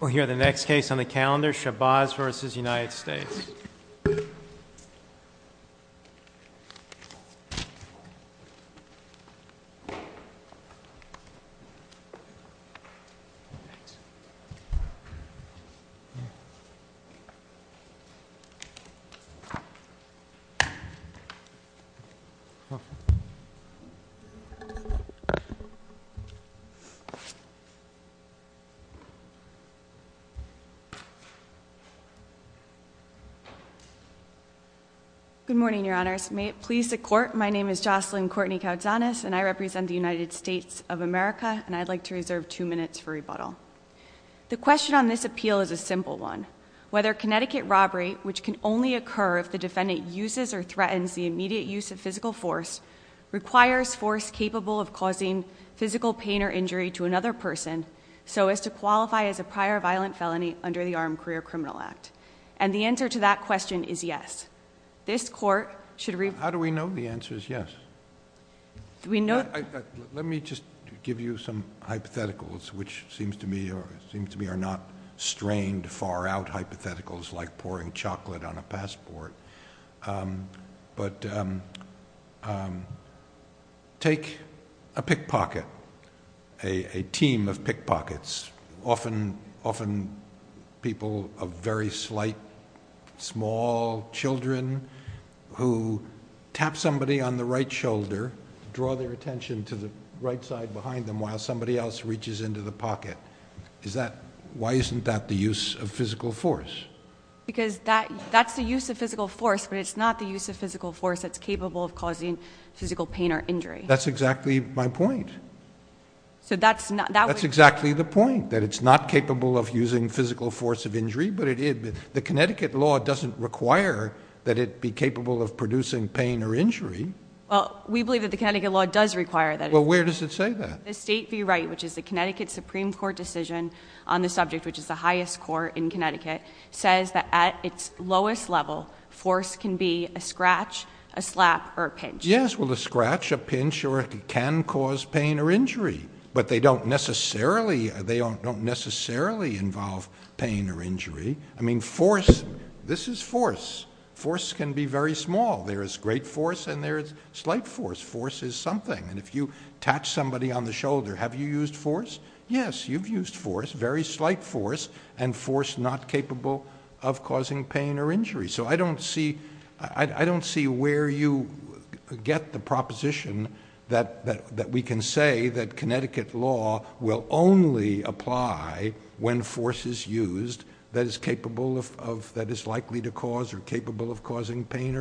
We'll hear the next case on the calendar, Shabazz v. United States. Good morning, Your Honors. May it please the Court, my name is Jocelyn Courtney-Caudzanes, and I represent the United States of America, and I'd like to reserve two minutes for rebuttal. The question on this appeal is a simple one. Whether Connecticut robbery, which can only occur if the defendant uses or threatens the immediate use of physical force, requires force capable of causing physical pain or violent felony under the Armed Career Criminal Act. And the answer to that question is yes. This Court should— How do we know the answer is yes? We know— Let me just give you some hypotheticals, which seems to me are not strained, far-out hypotheticals like pouring chocolate on a passport, but take a pickpocket, a team of pickpockets, often people of very slight, small children who tap somebody on the right shoulder, draw their attention to the right side behind them while somebody else reaches into the pocket. Why isn't that the use of physical force? Because that's the use of physical force, but it's not the use of physical force that's capable of causing physical pain or injury. That's exactly my point. So that's not— That's exactly the point, that it's not capable of using physical force of injury, but it is. The Connecticut law doesn't require that it be capable of producing pain or injury. Well, we believe that the Connecticut law does require that. Well, where does it say that? The State v. Wright, which is the Connecticut Supreme Court decision on the subject, which is the highest court in Connecticut, says that at its lowest level, force can be a scratch, a slap, or a pinch. Yes. Well, a scratch, a pinch can cause pain or injury, but they don't necessarily involve pain or injury. I mean, force, this is force. Force can be very small. There is great force and there is slight force. Force is something. And if you touch somebody on the shoulder, have you used force? Yes, you've used force. Very slight force and force not capable of causing pain or injury. So I don't see where you get the proposition that we can say that Connecticut law will only apply when force is used that is capable of—that is likely to cause or capable of causing pain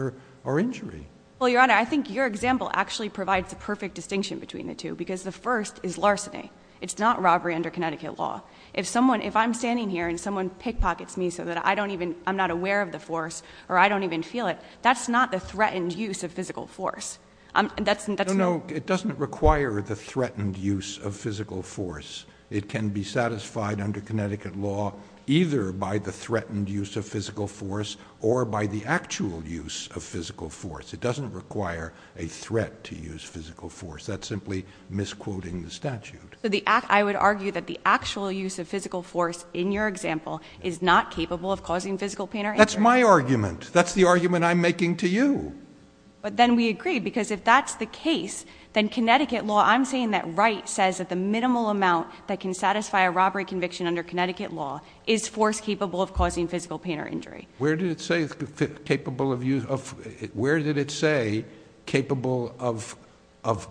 or injury. Well, Your Honor, I think your example actually provides the perfect distinction between the two, because the first is larceny. It's not robbery under Connecticut law. If someone—if I'm standing here and someone pickpockets me so that I don't even—I'm not aware of the force or I don't even feel it, that's not the threatened use of physical force. That's— No, no. It doesn't require the threatened use of physical force. It can be satisfied under Connecticut law either by the threatened use of physical force or by the actual use of physical force. That's simply misquoting the statute. I would argue that the actual use of physical force in your example is not capable of causing physical pain or injury. That's my argument. That's the argument I'm making to you. But then we agree, because if that's the case, then Connecticut law—I'm saying that Wright says that the minimal amount that can satisfy a robbery conviction under Connecticut law is force capable of causing physical pain or injury. Where did it say capable of—where did it say capable of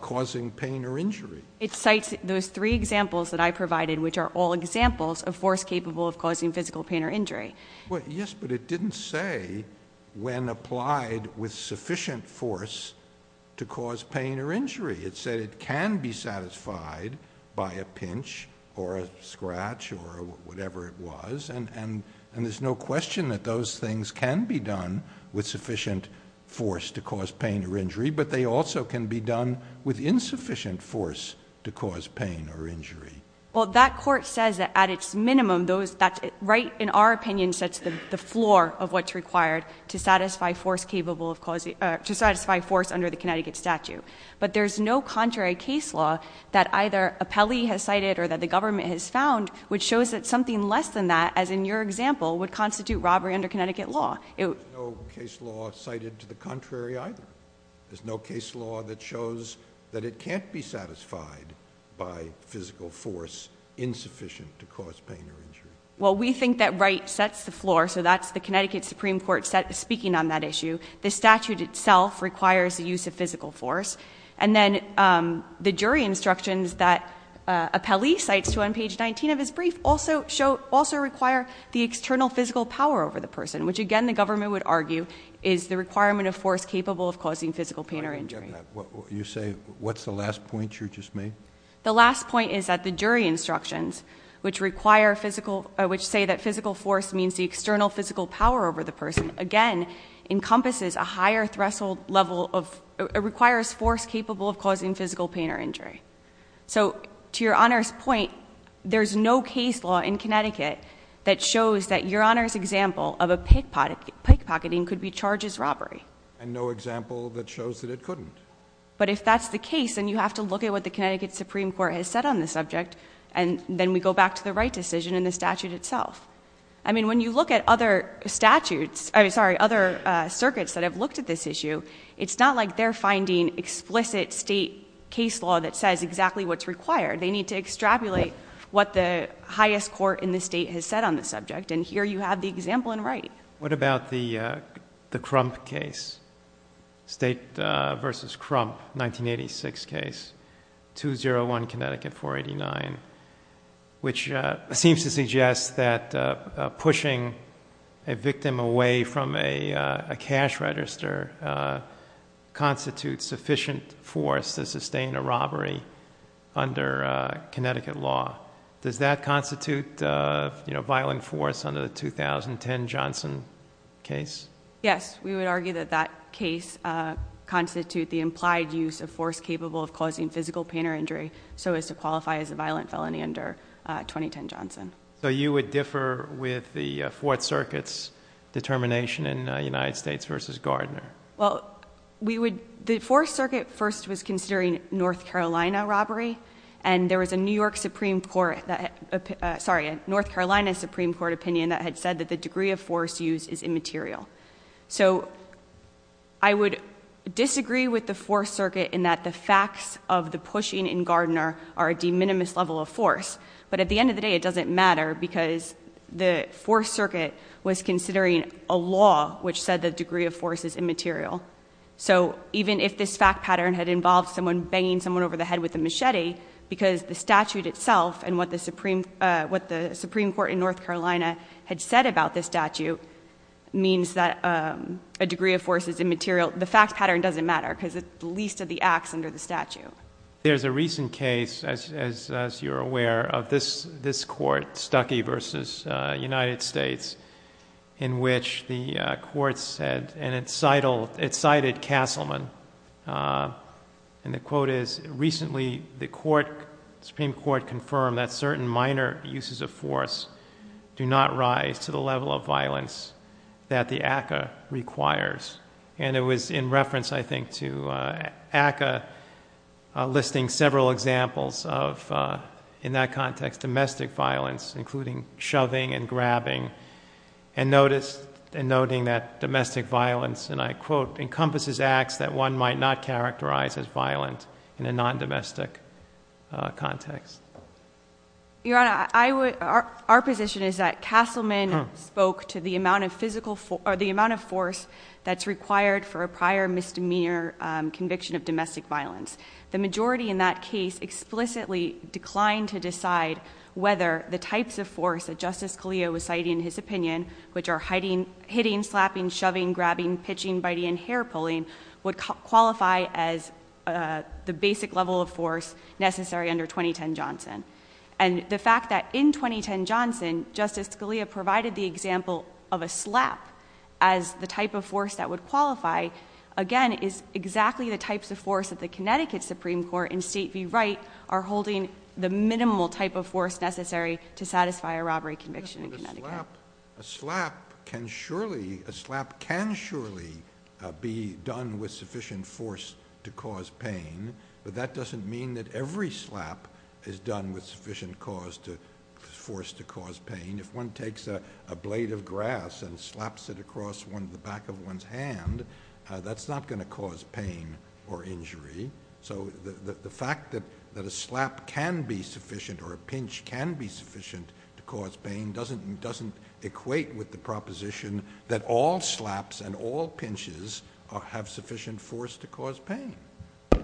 causing pain or injury? It cites those three examples that I provided, which are all examples of force capable of causing physical pain or injury. Yes, but it didn't say when applied with sufficient force to cause pain or injury. It said it can be satisfied by a pinch or a scratch or whatever it was, and there's no question that those things can be done with sufficient force to cause pain or injury, but they also can be done with insufficient force to cause pain or injury. Well, that court says that at its minimum, those—Wright, in our opinion, sets the floor of what's required to satisfy force capable of causing—to satisfy force under the Connecticut statute. But there's no contrary case law that either Apelli has cited or that the government has found which shows that something less than that, as in your example, would constitute robbery under Connecticut law. There's no case law cited to the contrary either. There's no case law that shows that it can't be satisfied by physical force insufficient to cause pain or injury. Well, we think that Wright sets the floor, so that's the Connecticut Supreme Court speaking on that issue. The statute itself requires the use of physical force. And then the jury instructions that Apelli cites on page 19 of his brief also require the external physical power over the person, which, again, the government would argue is the requirement of force capable of causing physical pain or injury. You say—what's the last point you just made? The last point is that the jury instructions, which require physical—which say that physical force means the external physical power over the person, again, encompasses a higher threshold level of—requires force capable of causing physical pain or injury. So to your Honor's point, there's no case law in Connecticut that shows that your Honor's example of a pickpocketing could be charged as robbery. And no example that shows that it couldn't. But if that's the case, then you have to look at what the Connecticut Supreme Court has said on the subject, and then we go back to the Wright decision and the statute itself. I mean, when you look at other statutes—I'm sorry, other circuits that have looked at this issue—it's not like they're finding explicit state case law that says exactly what's required. They need to extrapolate what the highest court in the state has said on the subject. And here you have the example in Wright. What about the Crump case? State versus Crump, 1986 case, 201 Connecticut 489, which seems to suggest that pushing a painter constitutes sufficient force to sustain a robbery under Connecticut law. Does that constitute violent force under the 2010 Johnson case? Yes. We would argue that that case constitute the implied use of force capable of causing physical pain or injury so as to qualify as a violent felony under 2010 Johnson. So you would differ with the Fourth Circuit's determination in United States v. Gardner? Well, we would—the Fourth Circuit first was considering North Carolina robbery, and there was a New York Supreme Court—sorry, a North Carolina Supreme Court opinion that had said that the degree of force used is immaterial. So I would disagree with the Fourth Circuit in that the facts of the pushing in Gardner are a de minimis level of force. But at the end of the day, it doesn't matter because the Fourth Circuit was considering a law which said the degree of force is immaterial. So even if this fact pattern had involved someone banging someone over the head with a machete, because the statute itself and what the Supreme Court in North Carolina had said about this statute means that a degree of force is immaterial. The fact pattern doesn't matter because it's the least of the acts under the statute. There's a recent case, as you're aware, of this court, Stuckey v. United States, in which the court said—and it cited Castleman—and the quote is, recently the Supreme Court confirmed that certain minor uses of force do not rise to the level of violence that the ACCA requires. And it was in reference, I think, to ACCA listing several examples of, in that context, domestic violence, including shoving and grabbing, and noting that domestic violence, and I quote, encompasses acts that one might not characterize as violent in a non-domestic context. Your Honor, our position is that Castleman spoke to the amount of force that's required for a prior misdemeanor conviction of domestic violence. The majority in that case explicitly declined to decide whether the types of force that Justice Scalia was citing in his opinion, which are hitting, slapping, shoving, grabbing, pitching, biting, and hair-pulling, would qualify as the basic level of force necessary under 2010 Johnson. And the fact that in 2010 Johnson, Justice Scalia provided the example of a slap as the type of force that would qualify, again, is exactly the types of force that the Connecticut Supreme Court and State v. Wright are holding the minimal type of force necessary to satisfy a robbery conviction in Connecticut. A slap can surely be done with sufficient force to cause pain, but that doesn't mean that every slap is done with sufficient force to cause pain. If one takes a blade of grass and slaps it across the back of one's hand, that's not going to cause pain or injury. So the fact that a slap can be sufficient or a pinch can be sufficient to cause pain doesn't equate with the proposition that all slaps and all pinches have sufficient force to cause pain.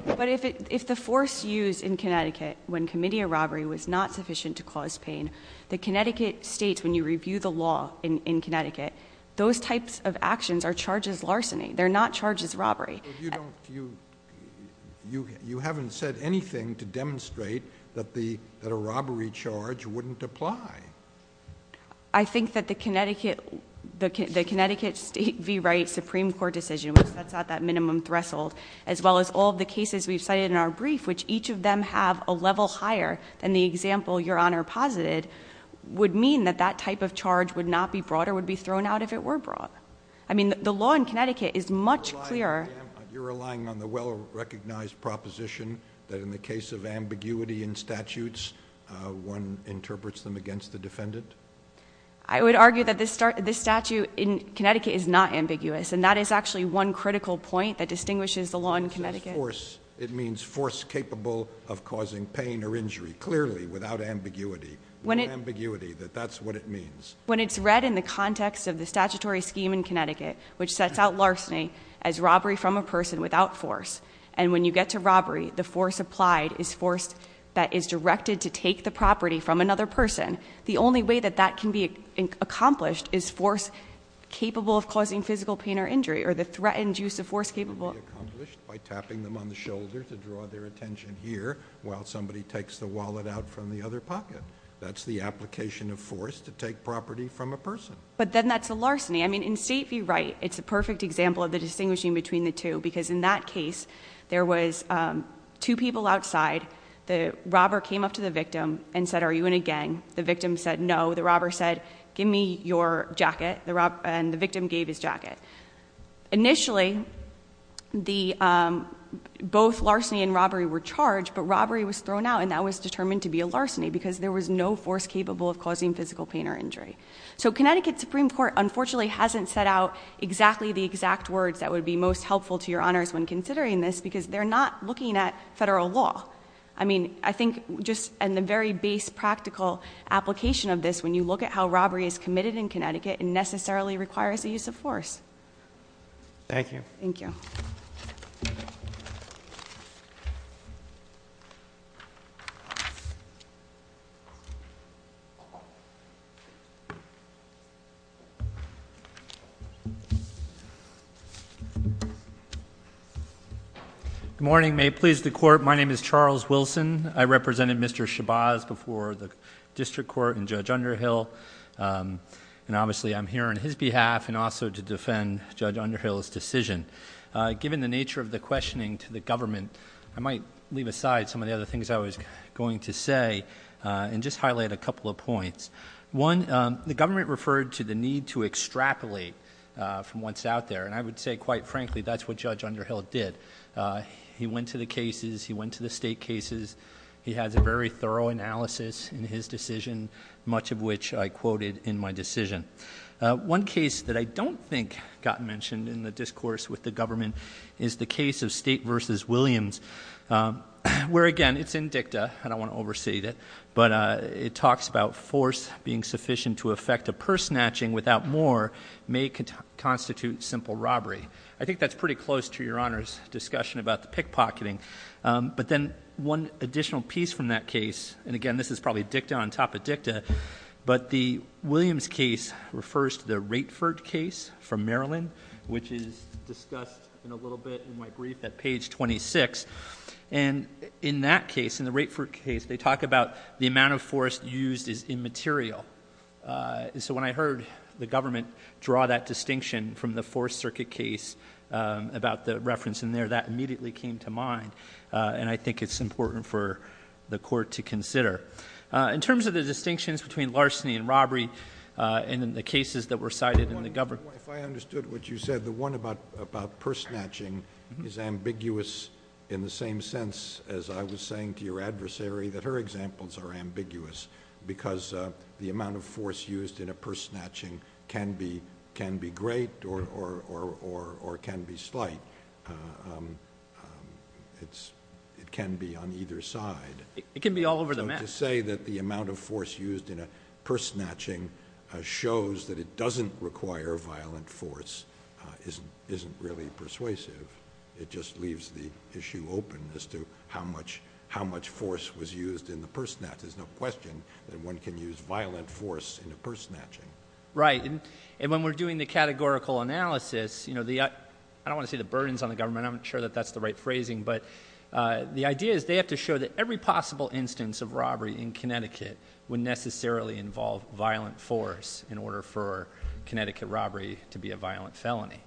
But if the force used in Connecticut when committing a robbery was not sufficient to cause pain, then the slap can be used to cause pain. And the fact that the Connecticut Supreme Court and State v. Wright are holding the type of force necessary to cause pain. That type of charge would not be brought or would be thrown out if it were brought. The law in Connecticut is much clearer. You're relying on the well-recognized proposition that in the case of ambiguity in statutes, one interprets them against the defendant? I would argue that this statute in Connecticut is not ambiguous, and that is actually one critical point that distinguishes the law in Connecticut. It means force capable of causing pain or injury, clearly, without ambiguity. Without ambiguity, that that's what it means. When it's read in the context of the statutory scheme in Connecticut, which sets out larceny as robbery from a person without force. And when you get to robbery, the force applied is force that is directed to take the property from another person. The only way that that can be accomplished is force capable of causing physical pain or injury, or the threatened use of force capable. That can be accomplished by tapping them on the shoulder to draw their attention here, while somebody takes the wallet out from the other pocket. That's the application of force to take property from a person. But then that's a larceny. I mean, in State v. Wright, it's a perfect example of the distinguishing between the two, because in that case, there was two people outside. The robber came up to the victim and said, are you in a gang? The victim said no. The robber said, give me your jacket, and the victim gave his jacket. Initially, both larceny and robbery were charged, but robbery was thrown out. And that was determined to be a larceny, because there was no force capable of causing physical pain or injury. So Connecticut Supreme Court, unfortunately, hasn't set out exactly the exact words that would be most helpful to your honors when considering this, because they're not looking at federal law. I mean, I think just in the very base practical application of this, when you look at how robbery is committed in Connecticut, it necessarily requires the use of force. Thank you. Thank you. Good morning. May it please the court, my name is Charles Wilson. I represented Mr. Shabazz before the district court and Judge Underhill. And obviously, I'm here on his behalf and also to defend Judge Underhill's decision. Given the nature of the questioning to the government, I might leave aside some of the other things I was going to say and just highlight a couple of points. One, the government referred to the need to extrapolate from what's out there, and I would say quite frankly, that's what Judge Underhill did. He went to the cases, he went to the state cases. He has a very thorough analysis in his decision, much of which I quoted in my decision. One case that I don't think got mentioned in the discourse with the government is the case of State versus Williams. Where again, it's in dicta, I don't want to overstate it. But it talks about force being sufficient to effect a purse snatching without more may constitute simple robbery. I think that's pretty close to your Honor's discussion about the pickpocketing. But then one additional piece from that case, and again, this is probably dicta on top of dicta. But the Williams case refers to the Raetford case from Maryland, which is discussed in a little bit in my brief at page 26. And in that case, in the Raetford case, they talk about the amount of force used is immaterial. And so when I heard the government draw that distinction from the Fourth Circuit case about the reference in there, that immediately came to mind, and I think it's important for the court to consider. In terms of the distinctions between larceny and robbery, and in the cases that were cited in the government- If I understood what you said, the one about purse snatching is ambiguous in the same sense as I was saying to your adversary that her examples are ambiguous. Because the amount of force used in a purse snatching can be great or can be slight. It can be on either side. It can be all over the map. So to say that the amount of force used in a purse snatching shows that it doesn't require violent force isn't really persuasive. It just leaves the issue open as to how much force was used in the purse snatch. Because there's no question that one can use violent force in a purse snatching. Right. And when we're doing the categorical analysis, I don't want to say the burdens on the government, I'm not sure that that's the right phrasing. But the idea is they have to show that every possible instance of robbery in Connecticut would necessarily involve violent force in order for Connecticut robbery to be a violent felony.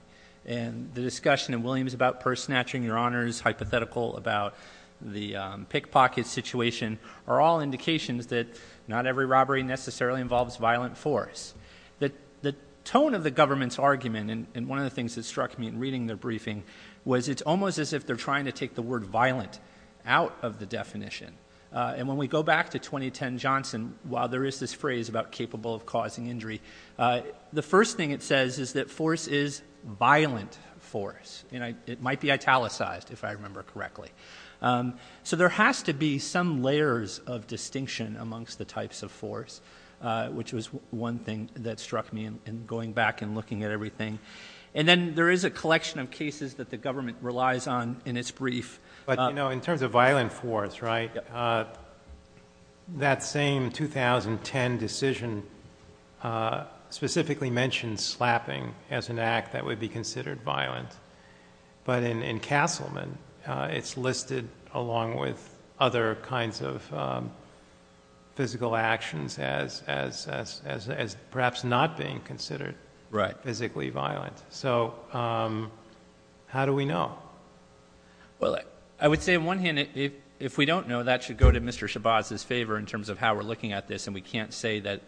And the discussion in Williams about purse snatching, Your Honors, hypothetical about the pickpocket situation are all indications that not every robbery necessarily involves violent force. The tone of the government's argument, and one of the things that struck me in reading their briefing, was it's almost as if they're trying to take the word violent out of the definition. And when we go back to 2010 Johnson, while there is this phrase about capable of causing injury, the first thing it says is that force is violent force. And it might be italicized, if I remember correctly. So there has to be some layers of distinction amongst the types of force, which was one thing that struck me in going back and looking at everything. And then there is a collection of cases that the government relies on in its brief. But you know, in terms of violent force, right, that same 2010 decision specifically mentioned slapping as an act that would be considered violent. But in Castleman, it's listed along with other kinds of physical actions as perhaps not being considered physically violent. So how do we know? Well, I would say on one hand, if we don't know, that should go to Mr. Shabazz's favor in terms of how we're looking at this. And we can't say that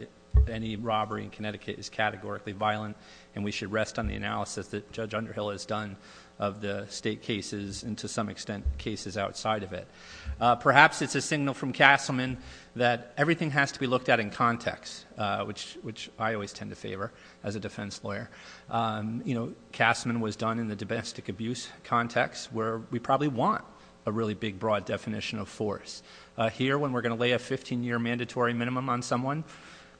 any robbery in Connecticut is categorically violent, and we should rest on the analysis that Judge Underhill has done of the state cases, and to some extent, cases outside of it. Perhaps it's a signal from Castleman that everything has to be looked at in context, which I always tend to favor as a defense lawyer. Castleman was done in the domestic abuse context, where we probably want a really big, broad definition of force. Here, when we're going to lay a 15 year mandatory minimum on someone,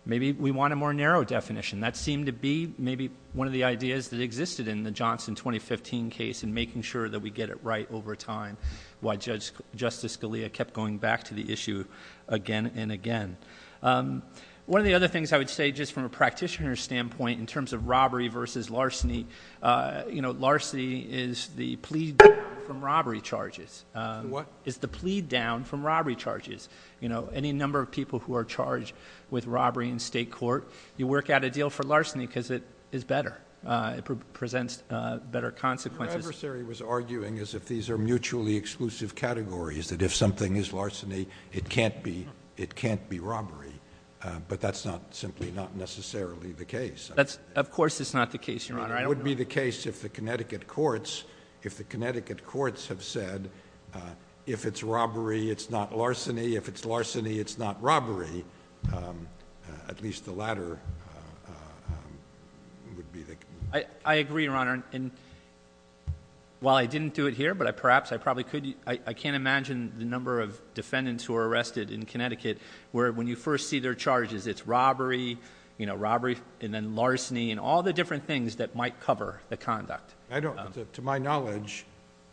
maybe we want a more narrow definition. That seemed to be maybe one of the ideas that existed in the Johnson 2015 case, and making sure that we get it right over time, why Justice Scalia kept going back to the issue again and again. One of the other things I would say, just from a practitioner's standpoint, in terms of robbery versus larceny. You know, larceny is the plea from robbery charges. What? It's the plea down from robbery charges. You know, any number of people who are charged with robbery in state court, you work out a deal for larceny because it is better. It presents better consequences. Your adversary was arguing as if these are mutually exclusive categories, that if something is larceny, it can't be robbery. But that's not simply, not necessarily the case. Of course it's not the case, Your Honor. It would be the case if the Connecticut courts, if the Connecticut courts have said, if it's robbery, it's not larceny, if it's larceny, it's not robbery. At least the latter would be the- I agree, Your Honor, and while I didn't do it here, but perhaps I probably could. I can't imagine the number of defendants who are arrested in Connecticut where when you first see their charges, it's robbery, you know, robbery, and then larceny, and all the different things that might cover the conduct. I don't, to my knowledge,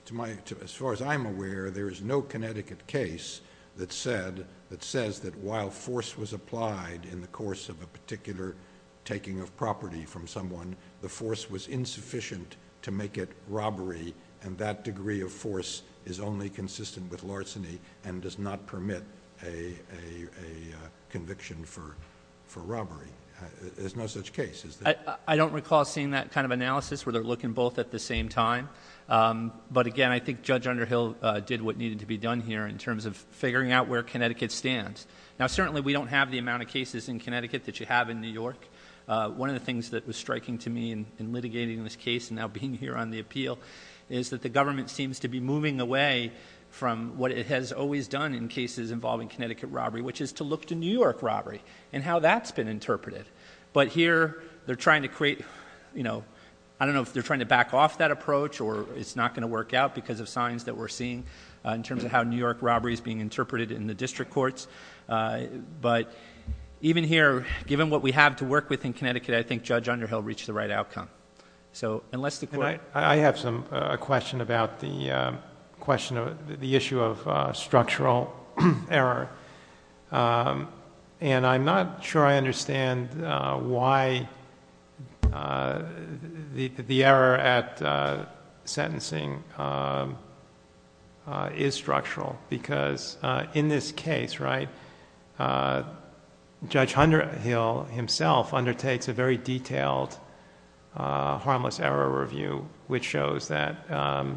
to my, as far as I'm aware, there is no Connecticut case that said, that says that while force was applied in the course of a particular taking of property from someone, the force was insufficient to make it robbery, and that degree of force is only consistent with larceny, and does not permit a conviction for robbery. There's no such case, is there? I don't recall seeing that kind of analysis where they're looking both at the same time. But again, I think Judge Underhill did what needed to be done here in terms of figuring out where Connecticut stands. Now certainly we don't have the amount of cases in Connecticut that you have in New York. One of the things that was striking to me in litigating this case and now being here on the appeal, is that the government seems to be moving away from what it has always done in cases involving Connecticut robbery, which is to look to New York robbery, and how that's been interpreted. But here, they're trying to create, I don't know if they're trying to back off that approach, or it's not going to work out because of signs that we're seeing in terms of how New York robbery is being interpreted in the district courts. But even here, given what we have to work with in Connecticut, I think Judge Underhill reached the right outcome. So, unless the court- I have a question about the issue of structural error. And I'm not sure I understand why the error at sentencing is structural. Because in this case, right, Judge Underhill himself undertakes a very detailed harmless error review, which shows that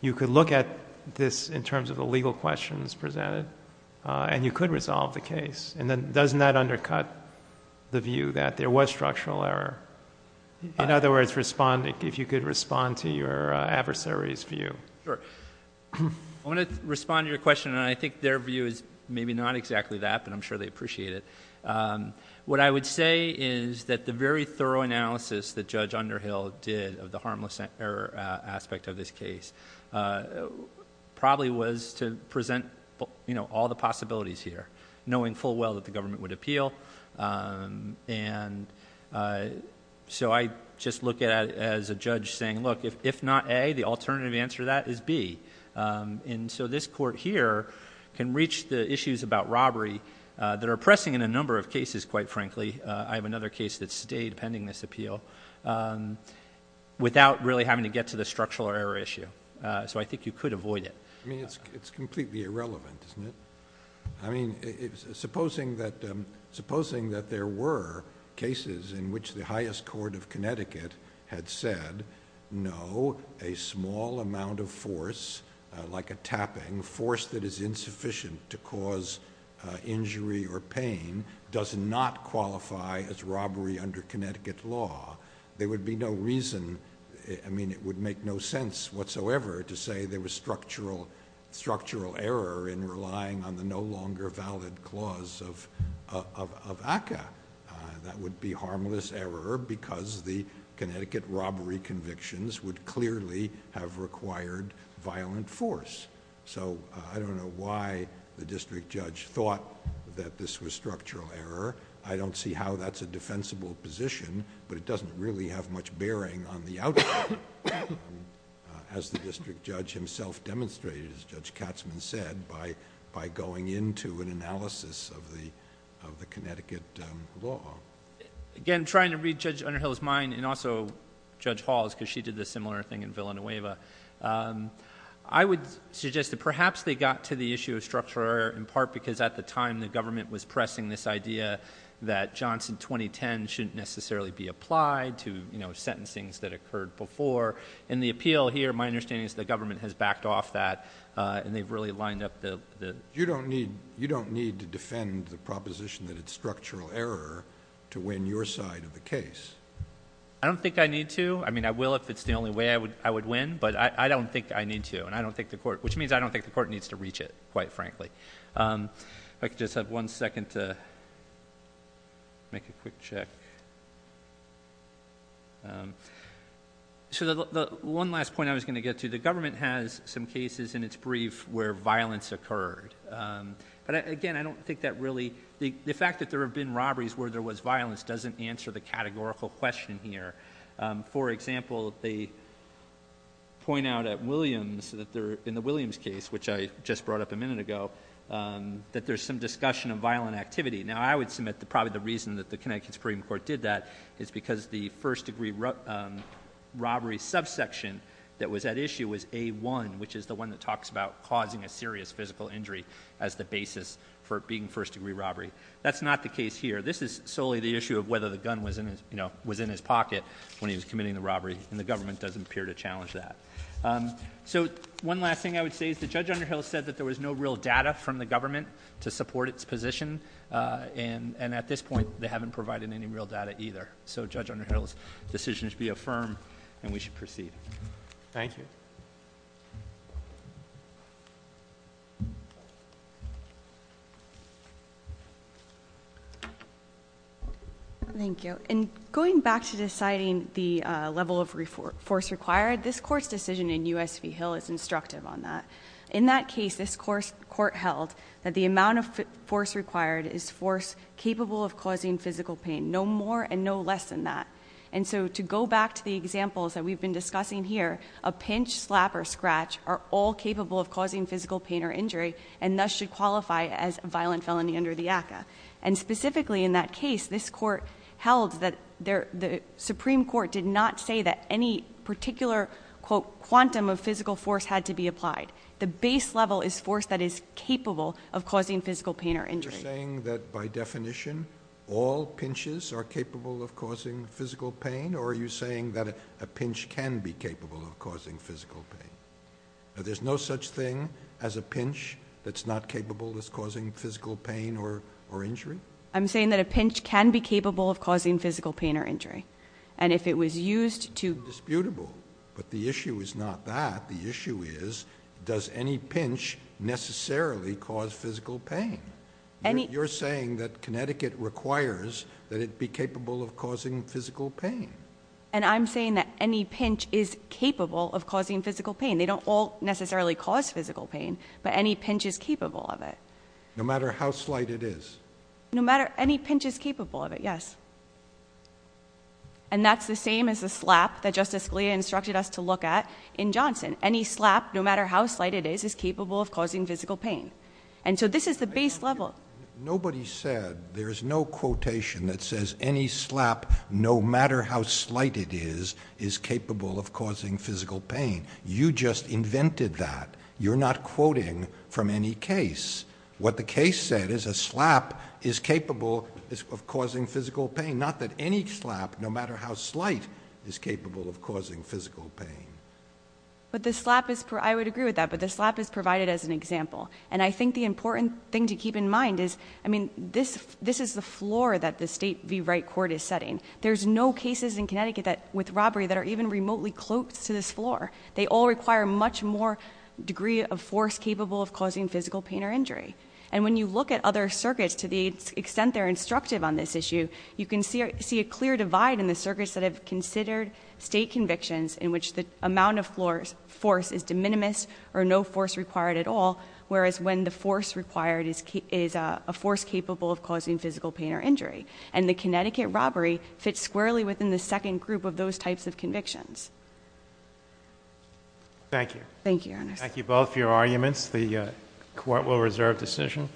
you could look at this in terms of the legal questions presented, and you could resolve the case. And then, doesn't that undercut the view that there was structural error? In other words, if you could respond to your adversary's view. Sure, I want to respond to your question, and I think their view is maybe not exactly that, but I'm sure they appreciate it. What I would say is that the very thorough analysis that Judge Underhill did of the harmless error aspect of this case, probably was to present all the possibilities here, knowing full well that the government would appeal. And so I just look at it as a judge saying, look, if not A, the alternative answer to that is B. And so this court here can reach the issues about robbery that are pressing in a number of cases, quite frankly. I have another case that's today, pending this appeal, without really having to get to the structural error issue. So I think you could avoid it. I mean, it's completely irrelevant, isn't it? I mean, supposing that there were cases in which the highest court of Connecticut had said, no, a small amount of force, like a tapping, force that is insufficient to cause injury or pain, does not qualify as robbery under Connecticut law. There would be no reason, I mean, it would make no sense whatsoever to say there was structural error in relying on the no longer valid clause of ACCA. That would be harmless error because the Connecticut robbery convictions would clearly have required violent force. So I don't know why the district judge thought that this was structural error. I don't see how that's a defensible position, but it doesn't really have much bearing on the outcome. As the district judge himself demonstrated, as Judge Katzman said, by going into an analysis of the Connecticut law. Again, trying to read Judge Underhill's mind, and also Judge Hall's, because she did a similar thing in Villanueva. I would suggest that perhaps they got to the issue of structural error in part because at the time the government was pressing this idea that Johnson 2010 shouldn't necessarily be applied to sentencings that occurred before. In the appeal here, my understanding is the government has backed off that, and they've really lined up the- You don't need to defend the proposition that it's structural error to win your side of the case. I don't think I need to. I mean, I will if it's the only way I would win, but I don't think I need to. And I don't think the court, which means I don't think the court needs to reach it, quite frankly. If I could just have one second to make a quick check. So the one last point I was going to get to, the government has some cases in its brief where violence occurred. But again, I don't think that really- The fact that there have been robberies where there was violence doesn't answer the categorical question here. For example, they point out at Williams, in the Williams case, which I just brought up a minute ago, that there's some discussion of violent activity. Now, I would submit that probably the reason that the Connecticut Supreme Court did that is because the first degree robbery subsection that was at issue was A1, which is the one that talks about causing a serious physical injury. As the basis for being first degree robbery. That's not the case here. This is solely the issue of whether the gun was in his pocket when he was committing the robbery, and the government doesn't appear to challenge that. So, one last thing I would say is that Judge Underhill said that there was no real data from the government to support its position. And at this point, they haven't provided any real data either. So Judge Underhill's decision should be affirmed, and we should proceed. Thank you. Thank you. In going back to deciding the level of force required, this court's decision in USV Hill is instructive on that. In that case, this court held that the amount of force required is force capable of causing physical pain, no more and no less than that. And so, to go back to the examples that we've been discussing here, a pinch, slap, or scratch are all capable of causing physical pain or injury, and thus should qualify as violent felony under the ACA. And specifically in that case, this court held that the Supreme Court did not say that any particular, quote, quantum of physical force had to be applied. The base level is force that is capable of causing physical pain or injury. You're saying that by definition, all pinches are capable of causing physical pain, or are you saying that a pinch can be capable of causing physical pain? There's no such thing as a pinch that's not capable of causing physical pain or injury? I'm saying that a pinch can be capable of causing physical pain or injury. And if it was used to- Disputable, but the issue is not that. The issue is, does any pinch necessarily cause physical pain? You're saying that Connecticut requires that it be capable of causing physical pain. And I'm saying that any pinch is capable of causing physical pain. They don't all necessarily cause physical pain, but any pinch is capable of it. No matter how slight it is. No matter any pinch is capable of it, yes. And that's the same as the slap that Justice Scalia instructed us to look at in Johnson. Any slap, no matter how slight it is, is capable of causing physical pain. And so this is the base level. Nobody said, there's no quotation that says any slap, no matter how slight it is, is capable of causing physical pain. You just invented that. You're not quoting from any case. What the case said is a slap is capable of causing physical pain. Not that any slap, no matter how slight, is capable of causing physical pain. But the slap is, I would agree with that, but the slap is provided as an example. And I think the important thing to keep in mind is, I mean, this is the floor that the state V Wright court is setting. There's no cases in Connecticut with robbery that are even remotely close to this floor. They all require much more degree of force capable of causing physical pain or injury. And when you look at other circuits to the extent they're instructive on this issue, you can see a clear divide in the circuits that have considered state convictions in which the amount of force is de minimis or no force required at all, whereas when the force required is a force capable of causing physical pain or injury. And the Connecticut robbery fits squarely within the second group of those types of convictions. Thank you. Thank you, Ernest. Thank you both for your arguments. The court will reserve decision.